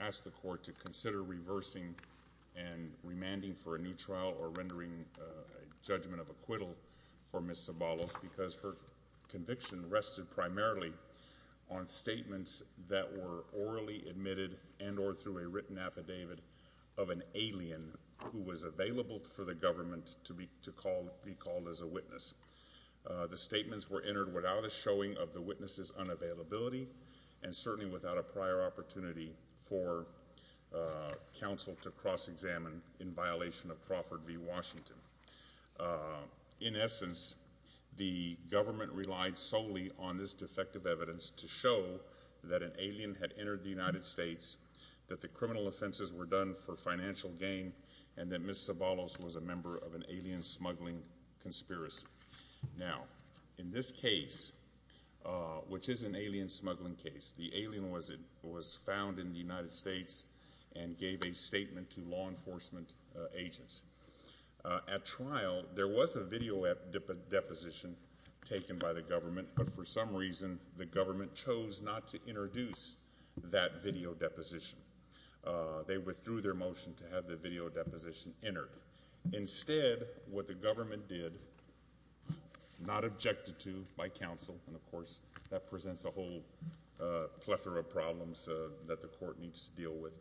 asked the court to consider reversing and remanding for a new trial or rendering judgment of acquittal for Ms. Ceballos because her conviction rested primarily on statements that were orally admitted and or through a written affidavit of an alien who was available for the government to be to call be called as a witness. The statements were entered without a showing of the opportunity for counsel to cross-examine in violation of Crawford v. Washington. In essence, the government relied solely on this defective evidence to show that an alien had entered the United States, that the criminal offenses were done for financial gain, and that Ms. Ceballos was a member of an alien smuggling conspiracy. Now in this case, which is an alien smuggling case, the evidence was found in the United States and gave a statement to law enforcement agents. At trial, there was a video deposition taken by the government, but for some reason the government chose not to introduce that video deposition. They withdrew their motion to have the video deposition entered. Instead, what the government did, not objected to by counsel, and of course that presents a whole plethora of problems that the court needs to deal with,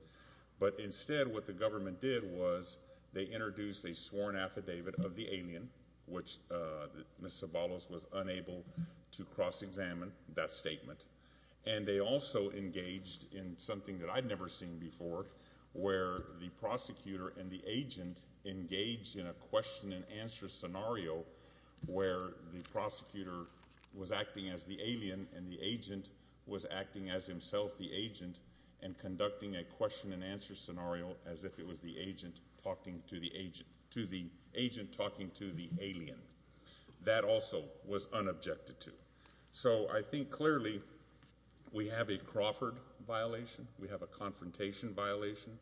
but instead what the government did was they introduced a sworn affidavit of the alien, which Ms. Ceballos was unable to cross-examine that statement, and they also engaged in something that I'd never seen before, where the prosecutor and the agent engaged in a question-and-answer scenario where the prosecutor was acting as the alien and the agent was acting as himself the agent and conducting a question-and-answer scenario as if it was the agent talking to the agent, to the agent talking to the alien. That also was unobjected to. So I think clearly we have a Crawford violation, we have a confrontation violation,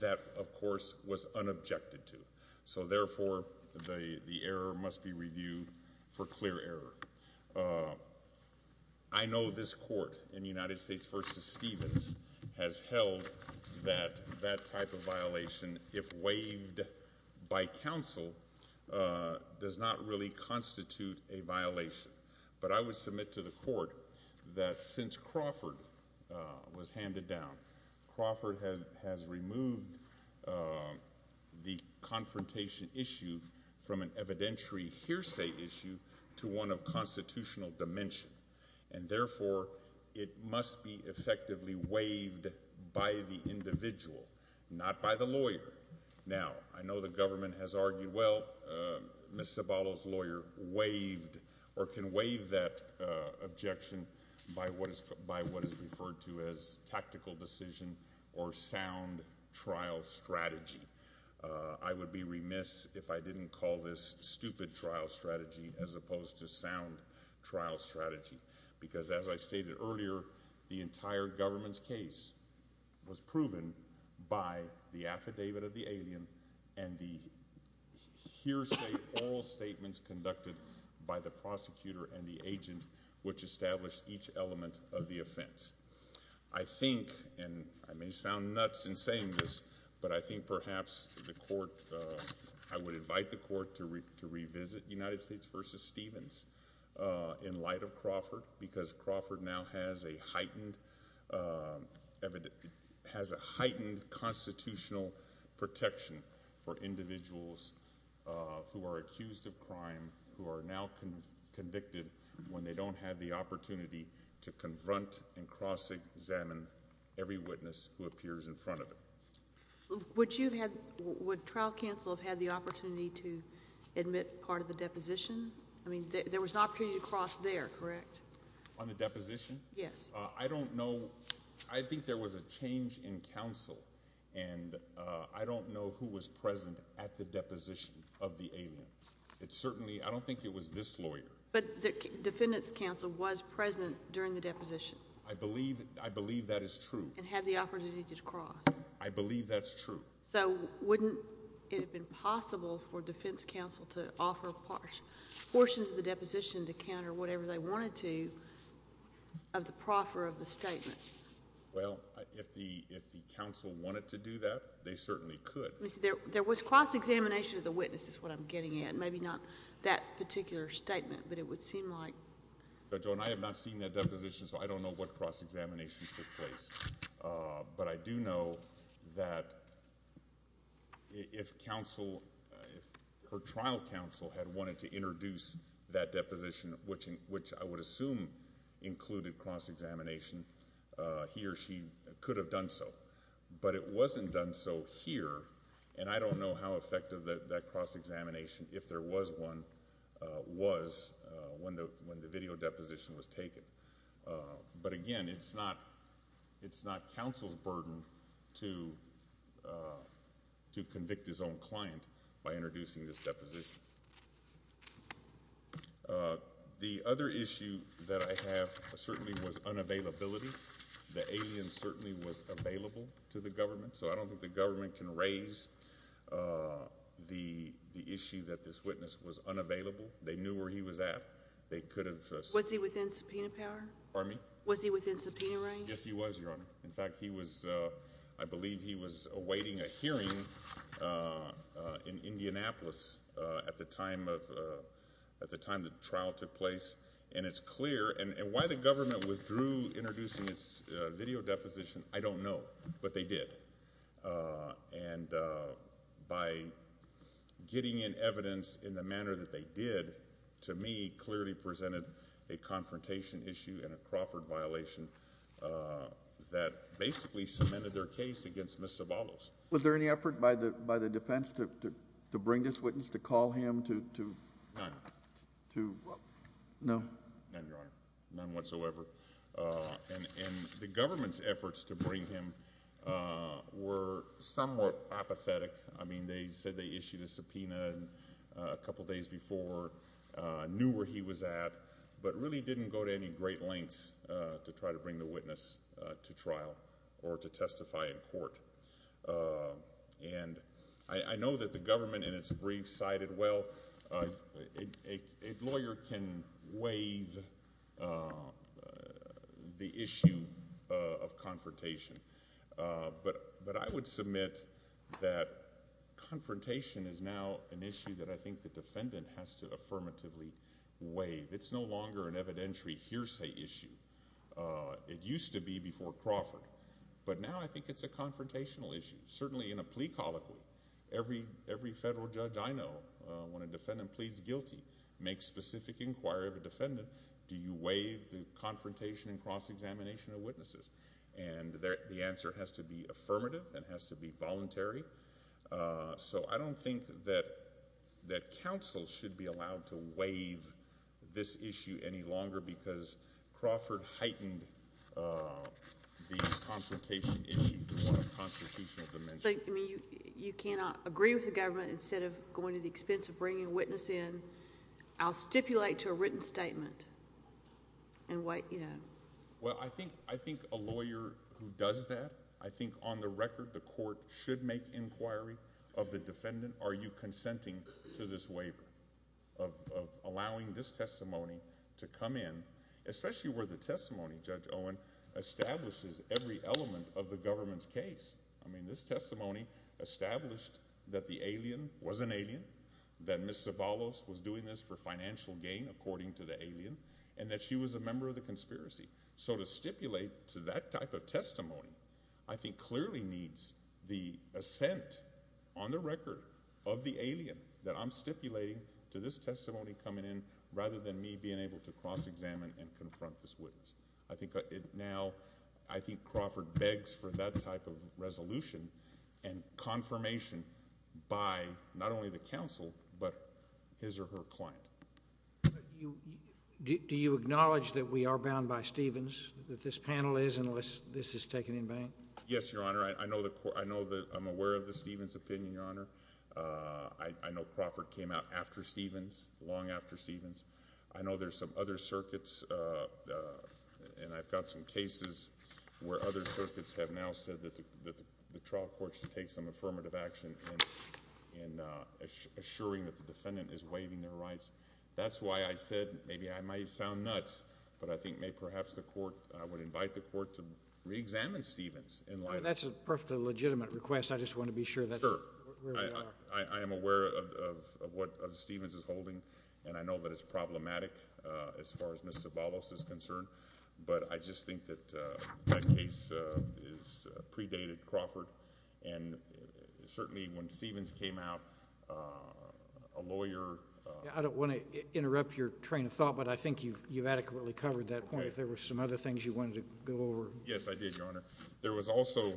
that of course was unobjected to. So therefore the error must be reviewed for clear error. I know this court in the United States v. Stevens has held that that type of violation, if waived by counsel, does not really constitute a violation, but I would submit to the court that since Crawford was handed down, Crawford has removed the confrontation issue from an evidentiary hearsay issue to one of constitutional dimension, and therefore it must be effectively waived by the individual, not by the lawyer. Now I know the government has argued, well, Ms. Ceballos' lawyer waived or can waive that objection by what is referred to as tactical decision or sound trial strategy. I would be remiss if I didn't call this stupid trial strategy as opposed to sound trial strategy, because as I stated earlier, the entire government's case was proven by the affidavit of the alien and the hearsay oral statements conducted by the defense. I think, and I may sound nuts in saying this, but I think perhaps the court, I would invite the court to revisit United States v. Stevens in light of Crawford, because Crawford now has a heightened constitutional protection for individuals who are accused of crime who are now convicted when they don't have the opportunity to confront and cross-examine every witness who appears in front of them. Would you have... would trial counsel have had the opportunity to admit part of the deposition? I mean, there was an opportunity to cross there, correct? On the deposition? Yes. I don't know. I think there was a change in counsel, and I don't know who was present at the deposition of the alien. It certainly... I don't think it was this lawyer. But the defendant's counsel was present during the deposition? I believe that is true. And had the opportunity to cross? I believe that's true. So wouldn't it have been possible for defense counsel to offer portions of the deposition to counter whatever they wanted to of the proffer of the statement? Well, if the counsel wanted to do that, they certainly could. There was cross-examination of the witnesses, is what I'm getting at, maybe not that particular statement, but it would seem like... But, Joan, I have not seen that deposition, so I don't know what cross-examination took place. But I do know that if counsel... if her trial counsel had wanted to introduce that deposition, which I would assume included cross-examination, he or she could have done so. But it wasn't done so here, and I don't know how difficult it was when the video deposition was taken. But again, it's not counsel's burden to convict his own client by introducing this deposition. The other issue that I have certainly was unavailability. The alien certainly was available to the government, so I don't think the issue that this witness was unavailable. They knew where he was at. They could have... Was he within subpoena power? Pardon me? Was he within subpoena range? Yes, he was, Your Honor. In fact, he was... I believe he was awaiting a hearing in Indianapolis at the time of... at the time the trial took place. And it's clear... and why the government withdrew introducing this video deposition, I don't know, but they did. And by getting in evidence in the manner that they did, to me, clearly presented a confrontation issue and a Crawford violation that basically cemented their case against Ms. Zavallos. Was there any effort by the defense to bring this witness, to call him, to... None. To... no? None, Your Honor. None whatsoever. And the government's efforts to... to bring him were somewhat apathetic. I mean, they said they issued a subpoena a couple days before, knew where he was at, but really didn't go to any great lengths to try to bring the witness to trial or to testify in court. And I know that the government, in its brief, cited, well, a lawyer can waive the issue of confrontation, but I would submit that confrontation is now an issue that I think the defendant has to affirmatively waive. It's no longer an evidentiary hearsay issue. It used to be before Crawford, but now I think it's a confrontational issue. Certainly in a plea colloquy, every federal judge I know, when a defendant pleads guilty, makes specific inquiry of a defendant, do you waive the confrontation and cross-examination of witnesses? And the answer has to be affirmative. It has to be voluntary. So I don't think that counsel should be allowed to waive this issue any longer because Crawford heightened the confrontation issue to a constitutional dimension. But, I mean, you cannot agree with the government, instead of going to the defendant. And why... Well, I think a lawyer who does that, I think on the record, the court should make inquiry of the defendant, are you consenting to this waiver of allowing this testimony to come in, especially where the testimony, Judge Owen, establishes every element of the government's case. I mean, this testimony established that the alien was an alien, that Ms. Zobalos was doing this for and that she was a member of the conspiracy. So to stipulate to that type of testimony, I think clearly needs the assent on the record of the alien that I'm stipulating to this testimony coming in, rather than me being able to cross-examine and confront this witness. I think now, I think Crawford begs for that type of resolution and confirmation by not only the counsel, but his or her counsel. Do you acknowledge that we are bound by Stevens, that this panel is, unless this is taken in vain? Yes, Your Honor. I know that I'm aware of the Stevens opinion, Your Honor. I know Crawford came out after Stevens, long after Stevens. I know there's some other circuits, and I've got some cases where other circuits have now said that the trial court should take some affirmative action in assuring that the evidence is there. I don't want to sound nuts, but I think maybe perhaps the court... I would invite the court to re-examine Stevens in light of... That's a perfectly legitimate request. I just want to be sure that's... Sure... where we are. I am aware of what Stevens is holding, and I know that it's problematic, as far as Ms. Zobalos is concerned, but I just think that that case is predated Crawford, and certainly when Stevens came out, a lawyer... I don't want to interrupt your train of thought, but I think you've made a point, and I think you've adequately covered that point. If there were some other things you wanted to go over... Yes, I did, Your Honor. There was also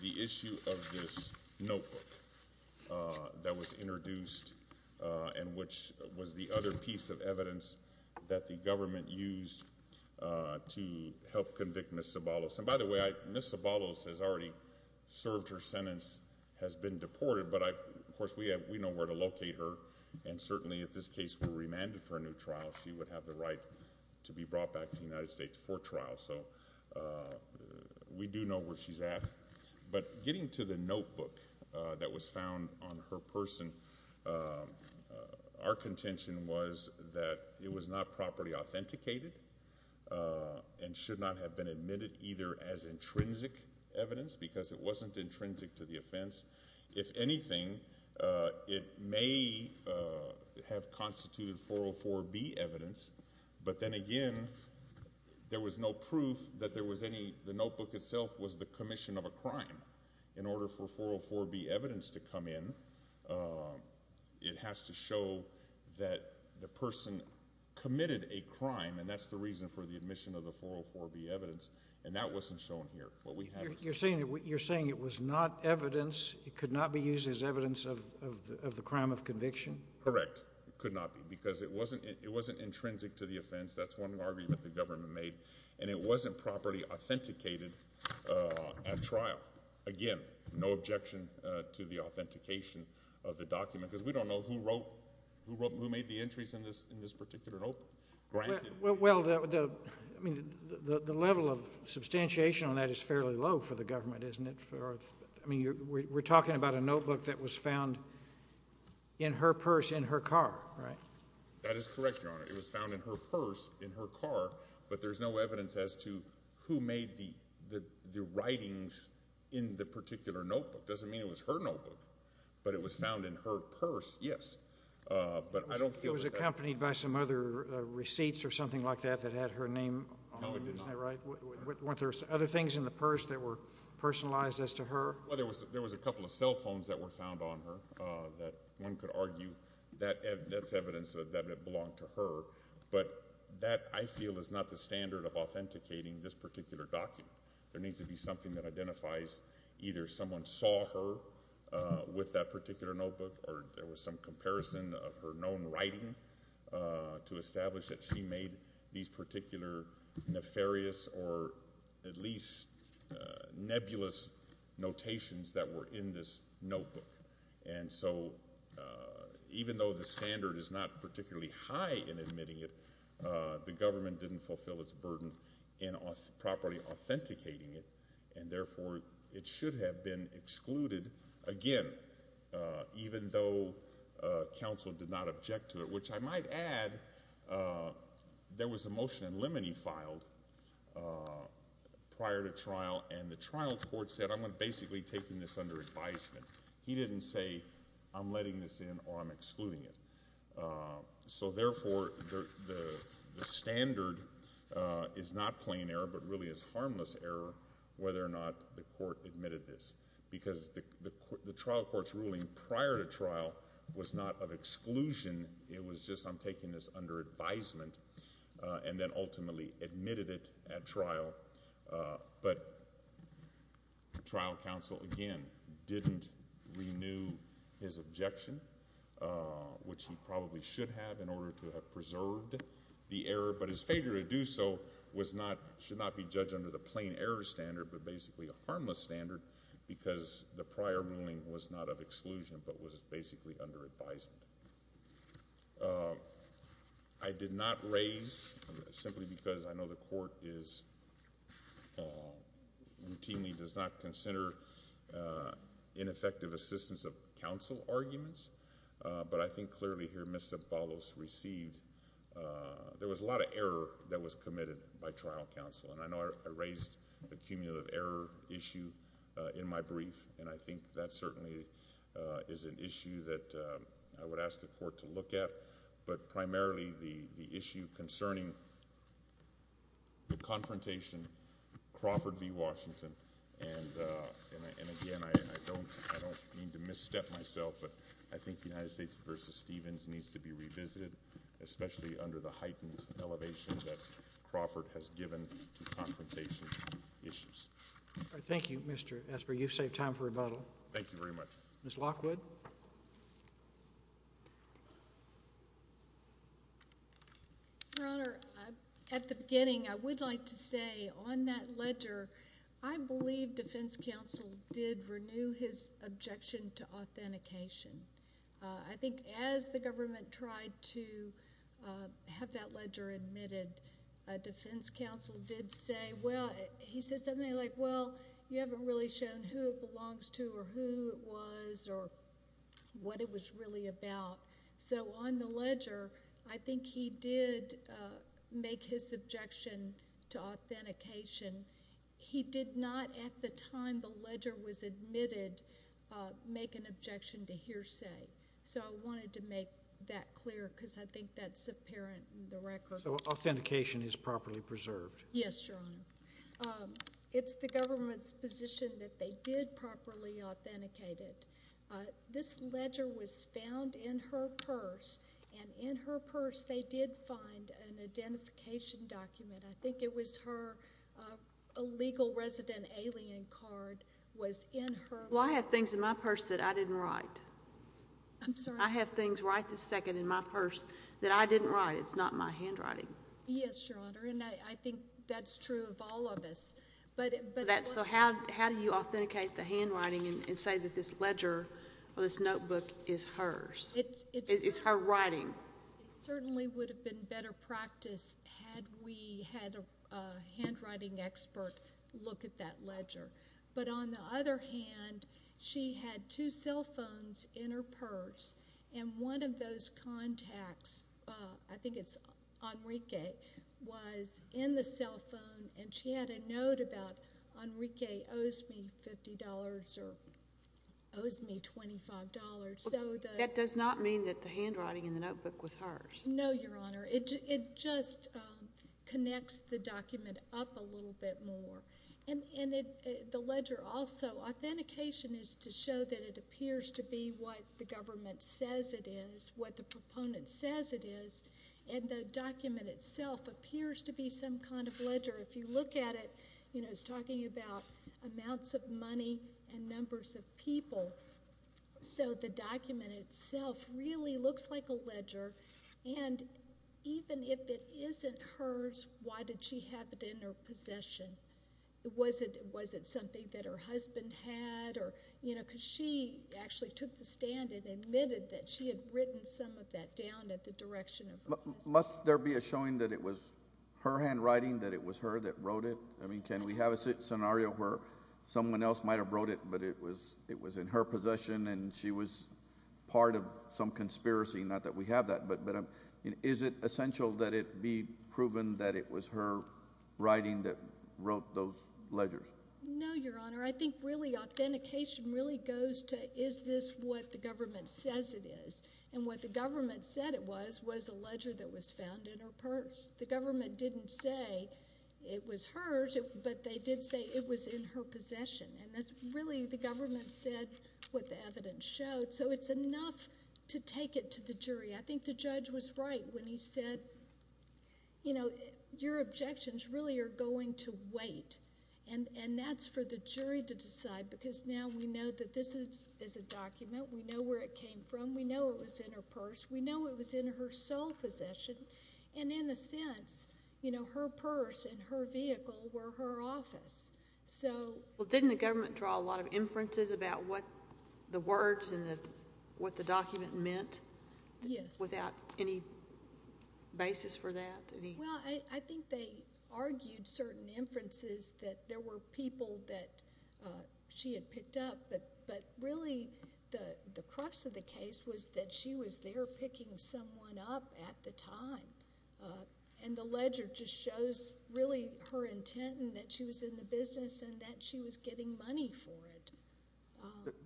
the issue of this notebook that was introduced, and which was the other piece of evidence that the government used to help convict Ms. Zobalos. And by the way, Ms. Zobalos has already served her sentence, has been deported, but I... of course, we have... we know where to locate her, and certainly if this case were remanded for a new trial, she would have the right to be brought back to the United States for trial, so we do know where she's at. But getting to the notebook that was found on her person, our contention was that it was not properly authenticated, and should not have been admitted either as intrinsic evidence, because it wasn't 404B evidence, but then again, there was no proof that there was any... the notebook itself was the commission of a crime. In order for 404B evidence to come in, it has to show that the person committed a crime, and that's the reason for the admission of the 404B evidence, and that wasn't shown here. What we have... You're saying it was not evidence, it could not be used as evidence of the crime of conviction? Correct. It could not be, because it wasn't intrinsic to the offense. That's one argument the government made, and it wasn't properly authenticated at trial. Again, no objection to the authentication of the document, because we don't know who wrote... who made the entries in this particular notebook. Well, the level of substantiation on that is fairly low for the government, isn't it? I mean, we're talking about a notebook that was found in her purse in her car, right? That is correct, Your Honor. It was found in her purse in her car, but there's no evidence as to who made the writings in the particular notebook. Doesn't mean it was her notebook, but it was found in her purse, yes, but I don't feel... It was accompanied by some other receipts or something like that that had her No, it did not. Weren't there other things in the purse that were personalized as to her? Well, there was a couple of cell phones that were found on her that one could argue that's evidence that it belonged to her, but that, I feel, is not the standard of authenticating this particular document. There needs to be something that identifies either someone saw her with that particular notebook, or there was some comparison of her known writing to establish that she made these particular nefarious or at least nebulous notations that were in this notebook, and so even though the standard is not particularly high in admitting it, the government didn't fulfill its burden in properly authenticating it, and therefore it should have been excluded again, even though counsel did not object to it, which I might add there was a motion in limine filed prior to trial, and the trial court said I'm basically taking this under advisement. He didn't say I'm letting this in or I'm excluding it, so therefore the standard is not plain error, but really is harmless error whether or not the court admitted this, because the trial court's ruling prior to trial was not of exclusion, it was just I'm taking this under advisement, and then ultimately admitted it at trial, but trial counsel, again, didn't renew his objection, which he probably should have in order to have preserved the error, but his failure to do so should not be judged under the plain error standard, but basically a harmless standard, because the prior ruling was not of exclusion, but was basically under advisement. I did not raise, simply because I know the court is routinely does not consider ineffective assistance of counsel arguments, but I think clearly here Ms. Zabalos received, there was a lot of error that was committed by trial counsel, and I know I raised the issue in my brief, and I think that certainly is an issue that I would ask the court to look at, but primarily the issue concerning the confrontation Crawford v. Washington, and again, I don't mean to misstep myself, but I think the United States v. Stevens needs to be revisited, especially under the heightened elevation that Crawford has given to confrontation issues. Thank you, Mr. Esper. You've saved time for rebuttal. Thank you very much. Ms. Lockwood. Your Honor, at the beginning, I would like to say on that ledger, I believe defense counsel did renew his objection to authentication. I think when the government tried to have that ledger admitted, defense counsel did say... he said something like, well, you haven't really shown who it belongs to, or who it was, or what it was really about. So on the ledger, I think he did make his objection to authentication. He did not, at the time the ledger was admitted, make an objection to authentication. I'm not that clear, because I think that's apparent in the record. So authentication is properly preserved? Yes, Your Honor. It's the government's position that they did properly authenticate it. This ledger was found in her purse, and in her purse, they did find an identification document. I think it was her illegal resident alien card was in her... Well, I have things in my purse that I didn't write. I'm sorry? I have things right this second in my purse that I didn't write. It's not my handwriting. Yes, Your Honor, and I think that's true of all of us. So how do you authenticate the handwriting and say that this ledger or this notebook is hers? It's her writing? It certainly would have been better practice had we had a handwriting expert look at that ledger. But on the other hand, she had two cell phones in her purse, and one of those contacts, I think it's Enrique, was in the cell phone, and she had a note about Enrique owes me $50 or owes me $25. That does not mean that the handwriting in the notebook was hers? No, Your Honor. It just connects the document up a little bit more. And the ledger also, authentication is to show that it appears to be what the government says it is, what the proponent says it is, and the document itself appears to be some kind of ledger. If you look at it, it's talking about amounts of money and numbers of people. So the document itself really looks like a ledger, and even if it isn't hers, why did she have it in her possession? Was it something that her husband had? Because she actually took the stand and admitted that she had written some of that down at the direction of her husband. Must there be a showing that it was her handwriting, that it was her that wrote it? Can we have a scenario where someone else might have wrote it, but it was in her possession and she was part of some conspiracy, not that we have that, but is it essential that it be proven that it was her writing that wrote those ledgers? No, Your Honor. I think really authentication really goes to is this what the government says it is? And what the government said it was, was a ledger that was found in her purse. The government didn't say it was hers, but they did say it was in her possession. And that's really the government said what the evidence showed. So it's enough to take it to the jury. I think the judge was right when he said, you know, your objections really are going to wait. And that's for the jury to decide, because now we know that this is a document. We know where it came from. We know it was in her purse. We know it was in her sole possession. And in a sense, you know, her purse and her vehicle were her office. Well, didn't the government draw a lot of inferences about what the words and what the document meant? Yes. Without any basis for that? Well, I think they argued certain inferences that there were people that she had picked up, but really the crux of the case was that she was there picking someone up at the time. And the ledger just shows really her intent and that she was in the business and that she was getting money for it.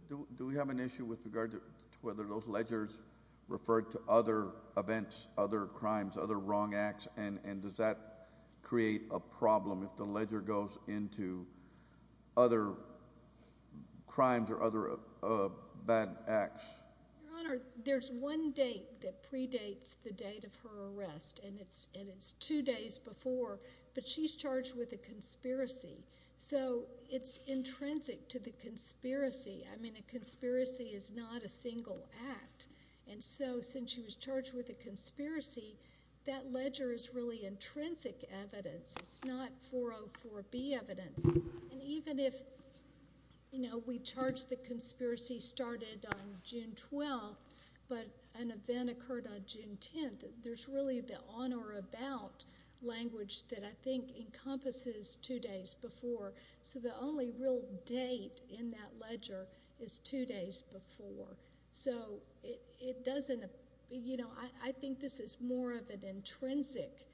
Do we have an issue with regard to whether those ledgers refer to other events, other crimes, other wrong acts, and does that create a problem if the ledger goes into other crimes or other bad acts? Your Honor, there's one date that predates the date of her arrest, and it's two days before, but she's charged with a conspiracy. So it's intrinsic to the conspiracy. I mean, a And so, since she was charged with a conspiracy, that ledger is really intrinsic evidence. It's not 404B evidence. And even if, you know, we charge the conspiracy started on June 12th, but an event occurred on June 10th, there's really the on or about language that I think encompasses two days before. So the only real date in that ledger is two days before. So it doesn't, you know, I think this is more of an intrinsic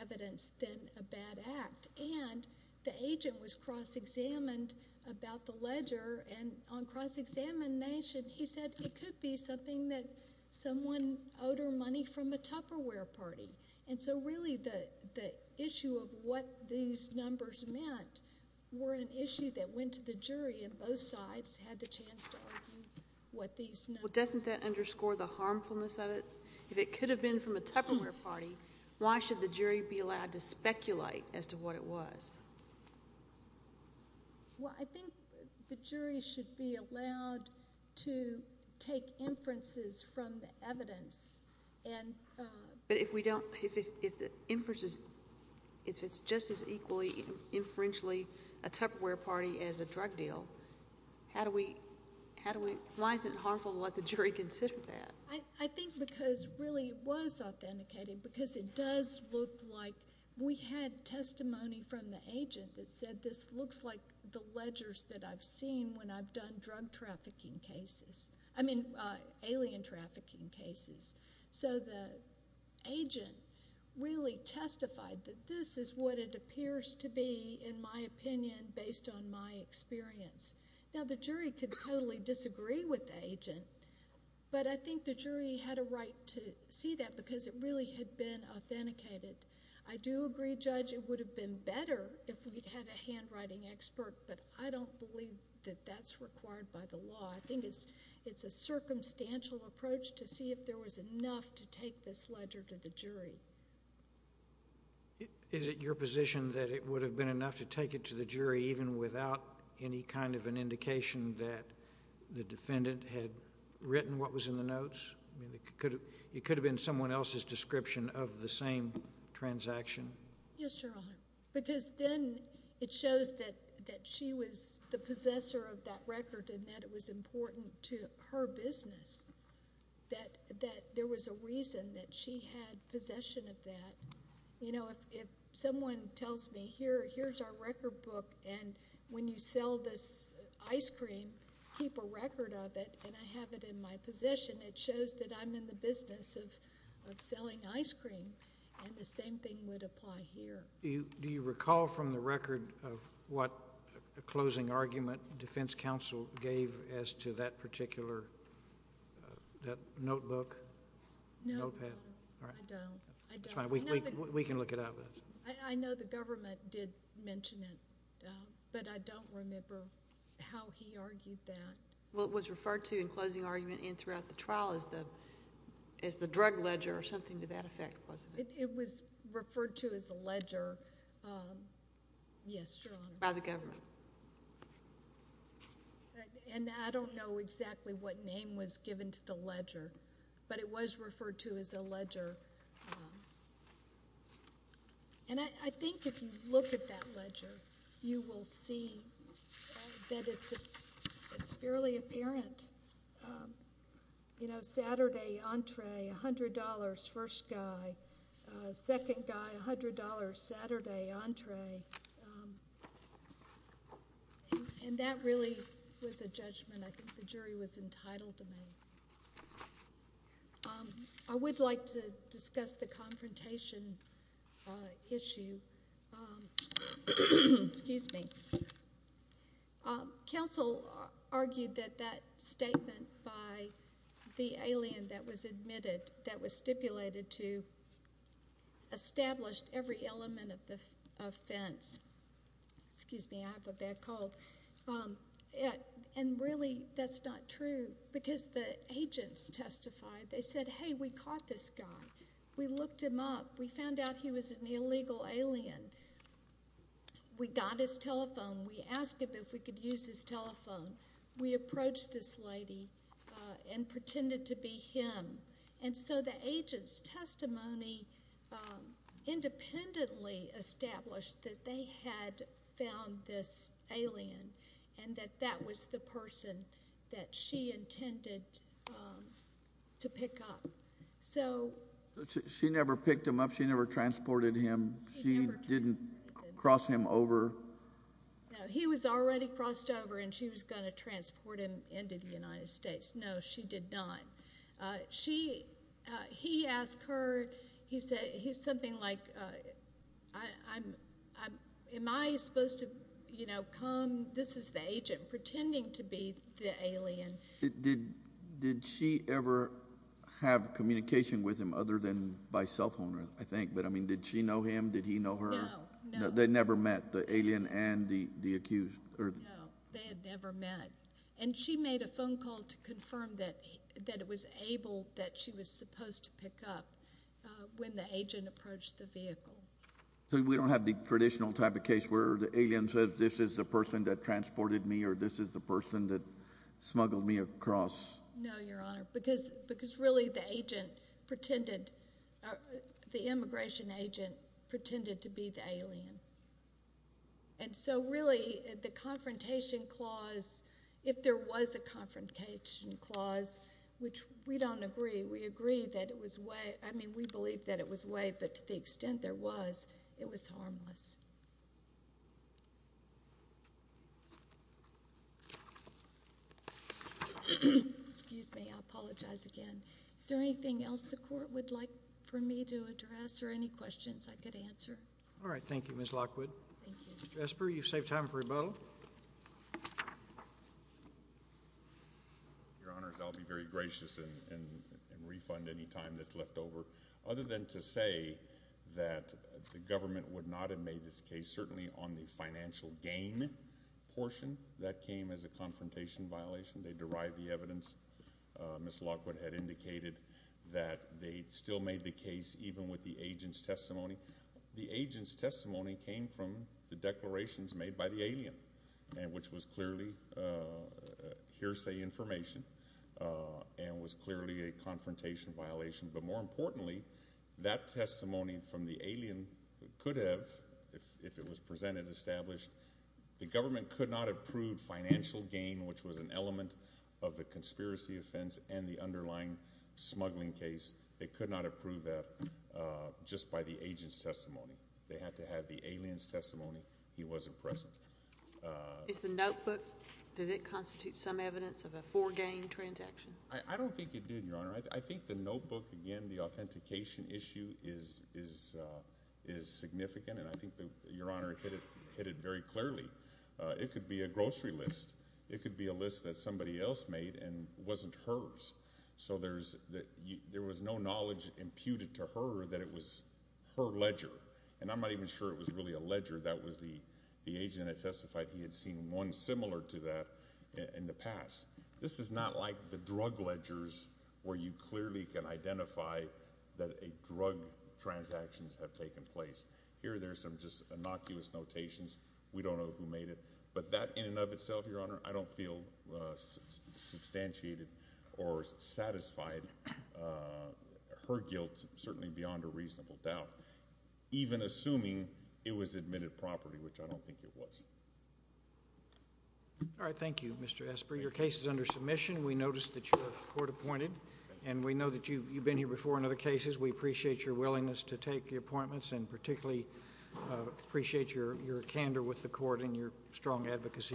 evidence than a bad act. And the agent was cross-examined about the ledger, and on cross-examination, he said it could be something that someone owed her money from a Tupperware party. And so really, the issue of what these numbers meant were an issue that went to the jury and both sides had the chance to argue what these numbers meant. Well, doesn't that underscore the harmfulness of it? If it could have been from a Tupperware party, why should the jury be allowed to speculate as to what it was? Well, I think the jury should be allowed to take inferences from the evidence. But if we don't, if the inferences, if it's just as equally, inferentially a Tupperware party as a drug deal, why is it harmful to let the jury consider that? I think because really, it was authenticated because it does look like we had testimony from the agent that said this looks like the ledgers that I've seen when I've done drug trafficking cases. I mean, alien trafficking cases. So the agent really testified that this is what it appears to be, in my opinion, based on my experience. Now, the jury could totally disagree with the agent, but I think the jury had a right to see that because it really had been authenticated. I do agree, Judge, it would have been better if we'd had a handwriting expert, but I don't believe that that's required by the law. I think it's a circumstantial approach to Is it your position that it would have been enough to take it to the jury even without any kind of an indication that the defendant had written what was in the notes? It could have been someone else's description of the same transaction? Yes, Your Honor, because then it shows that she was the possessor of that record and that it was important to her business that there was a reason that she had possession of that. If someone tells me, here's our record book, and when you sell this ice cream, keep a record of it, and I have it in my possession, it shows that I'm in the business of selling ice cream, and the same thing would apply here. Do you recall from the record what closing argument defense counsel gave as to that particular notebook, notepad? No, I don't. We can look it up. I know the government did mention it, but I don't remember how he argued that. Well, it was referred to in closing argument and throughout the trial as the drug ledger or something to that effect, wasn't it? It was referred to as a ledger by the government. I don't know exactly what name was given to the ledger, but it was referred to as a ledger. I think if you look at that ledger, you will see that it's fairly apparent. Saturday, entree, $100, first guy. Second guy, $100, Saturday, entree. That really was a judgment. I think the jury was entitled to make. I would like to discuss the confrontation issue. Counsel argued that that statement by the alien that was stipulated to establish every element of the offense. Really, that's not true because the agents testified. They said, hey, we caught this guy. We looked him up. We found out he was an illegal alien. We got his telephone. We asked him if we could use his telephone. We approached this lady and pretended to be him. The agent's testimony independently established that they had found this alien and that that was the person that she intended to pick up. She never picked him up. She never transported him. She didn't cross him over. No, he was already crossed over and she was going to transport him into the United States. No, she did not. He asked her. He said something like, am I supposed to come? This is the agent pretending to be the alien. Did she ever have communication with him other than by cell phone, I think. Did she know him? Did he know her? No. They never met the alien and the accused. No, they had never met. She made a phone call to confirm that it was able, that she was supposed to pick up when the agent approached the vehicle. We don't have the traditional type of case where the alien says this is the person that transported me or this is the person that smuggled me across. No, Your Honor, because really the agent pretended the immigration agent pretended to be the alien. Really, the confrontation clause, if there was a confrontation clause, which we don't agree, we agree that it was way, I mean we believe that it was way, but to the extent there was, it was harmless. Excuse me. I apologize again. Is there anything else the court would like for me to address or any questions I could answer? All right. Thank you, Ms. Lockwood. Thank you. Ms. Jesper, you've saved time for rebuttal. Your Honor, I'll be very gracious and refund any time that's left over. Other than to say that the government would not have made this case, certainly on the financial gain portion that came as a confrontation violation. They derived the evidence. Ms. Lockwood had indicated that they still made the case even with the agent's testimony. The agent's testimony came from the declarations made by the alien and which was clearly hearsay information and was clearly a confrontation violation, but more importantly, that testimony from the alien could have if it was presented, established, the government could not have proved financial gain, which was an element of the conspiracy offense and the underlying smuggling case. They could not have proved that just by the agent's testimony. They had to have the alien's testimony. He wasn't present. Is the notebook, did it constitute some evidence of a foregain transaction? I don't think it did, Your Honor. I think the notebook, again, the authentication issue is significant and I think, Your Honor, it hit it very clearly. It could be a grocery list. It could be a list that somebody else made and wasn't hers. So there's no knowledge imputed to her that it was her ledger. And I'm not even sure it was really a ledger. That was the agent that testified he had seen one similar to that in the past. This is not like the drug ledgers where you clearly can identify that drug transactions have taken place. Here there's some innocuous notations. We don't know who made it, but that in and of itself, Your Honor, I don't feel substantiated or satisfied. Her guilt certainly beyond a reasonable doubt. Even assuming it was admitted properly, which I don't think it was. All right. Thank you, Mr. Esper. Your case is under submission. We noticed that you were court appointed. And we know that you've been here before in other cases. We appreciate your willingness to take the appointments and particularly appreciate your candor with the court and your strong advocacy.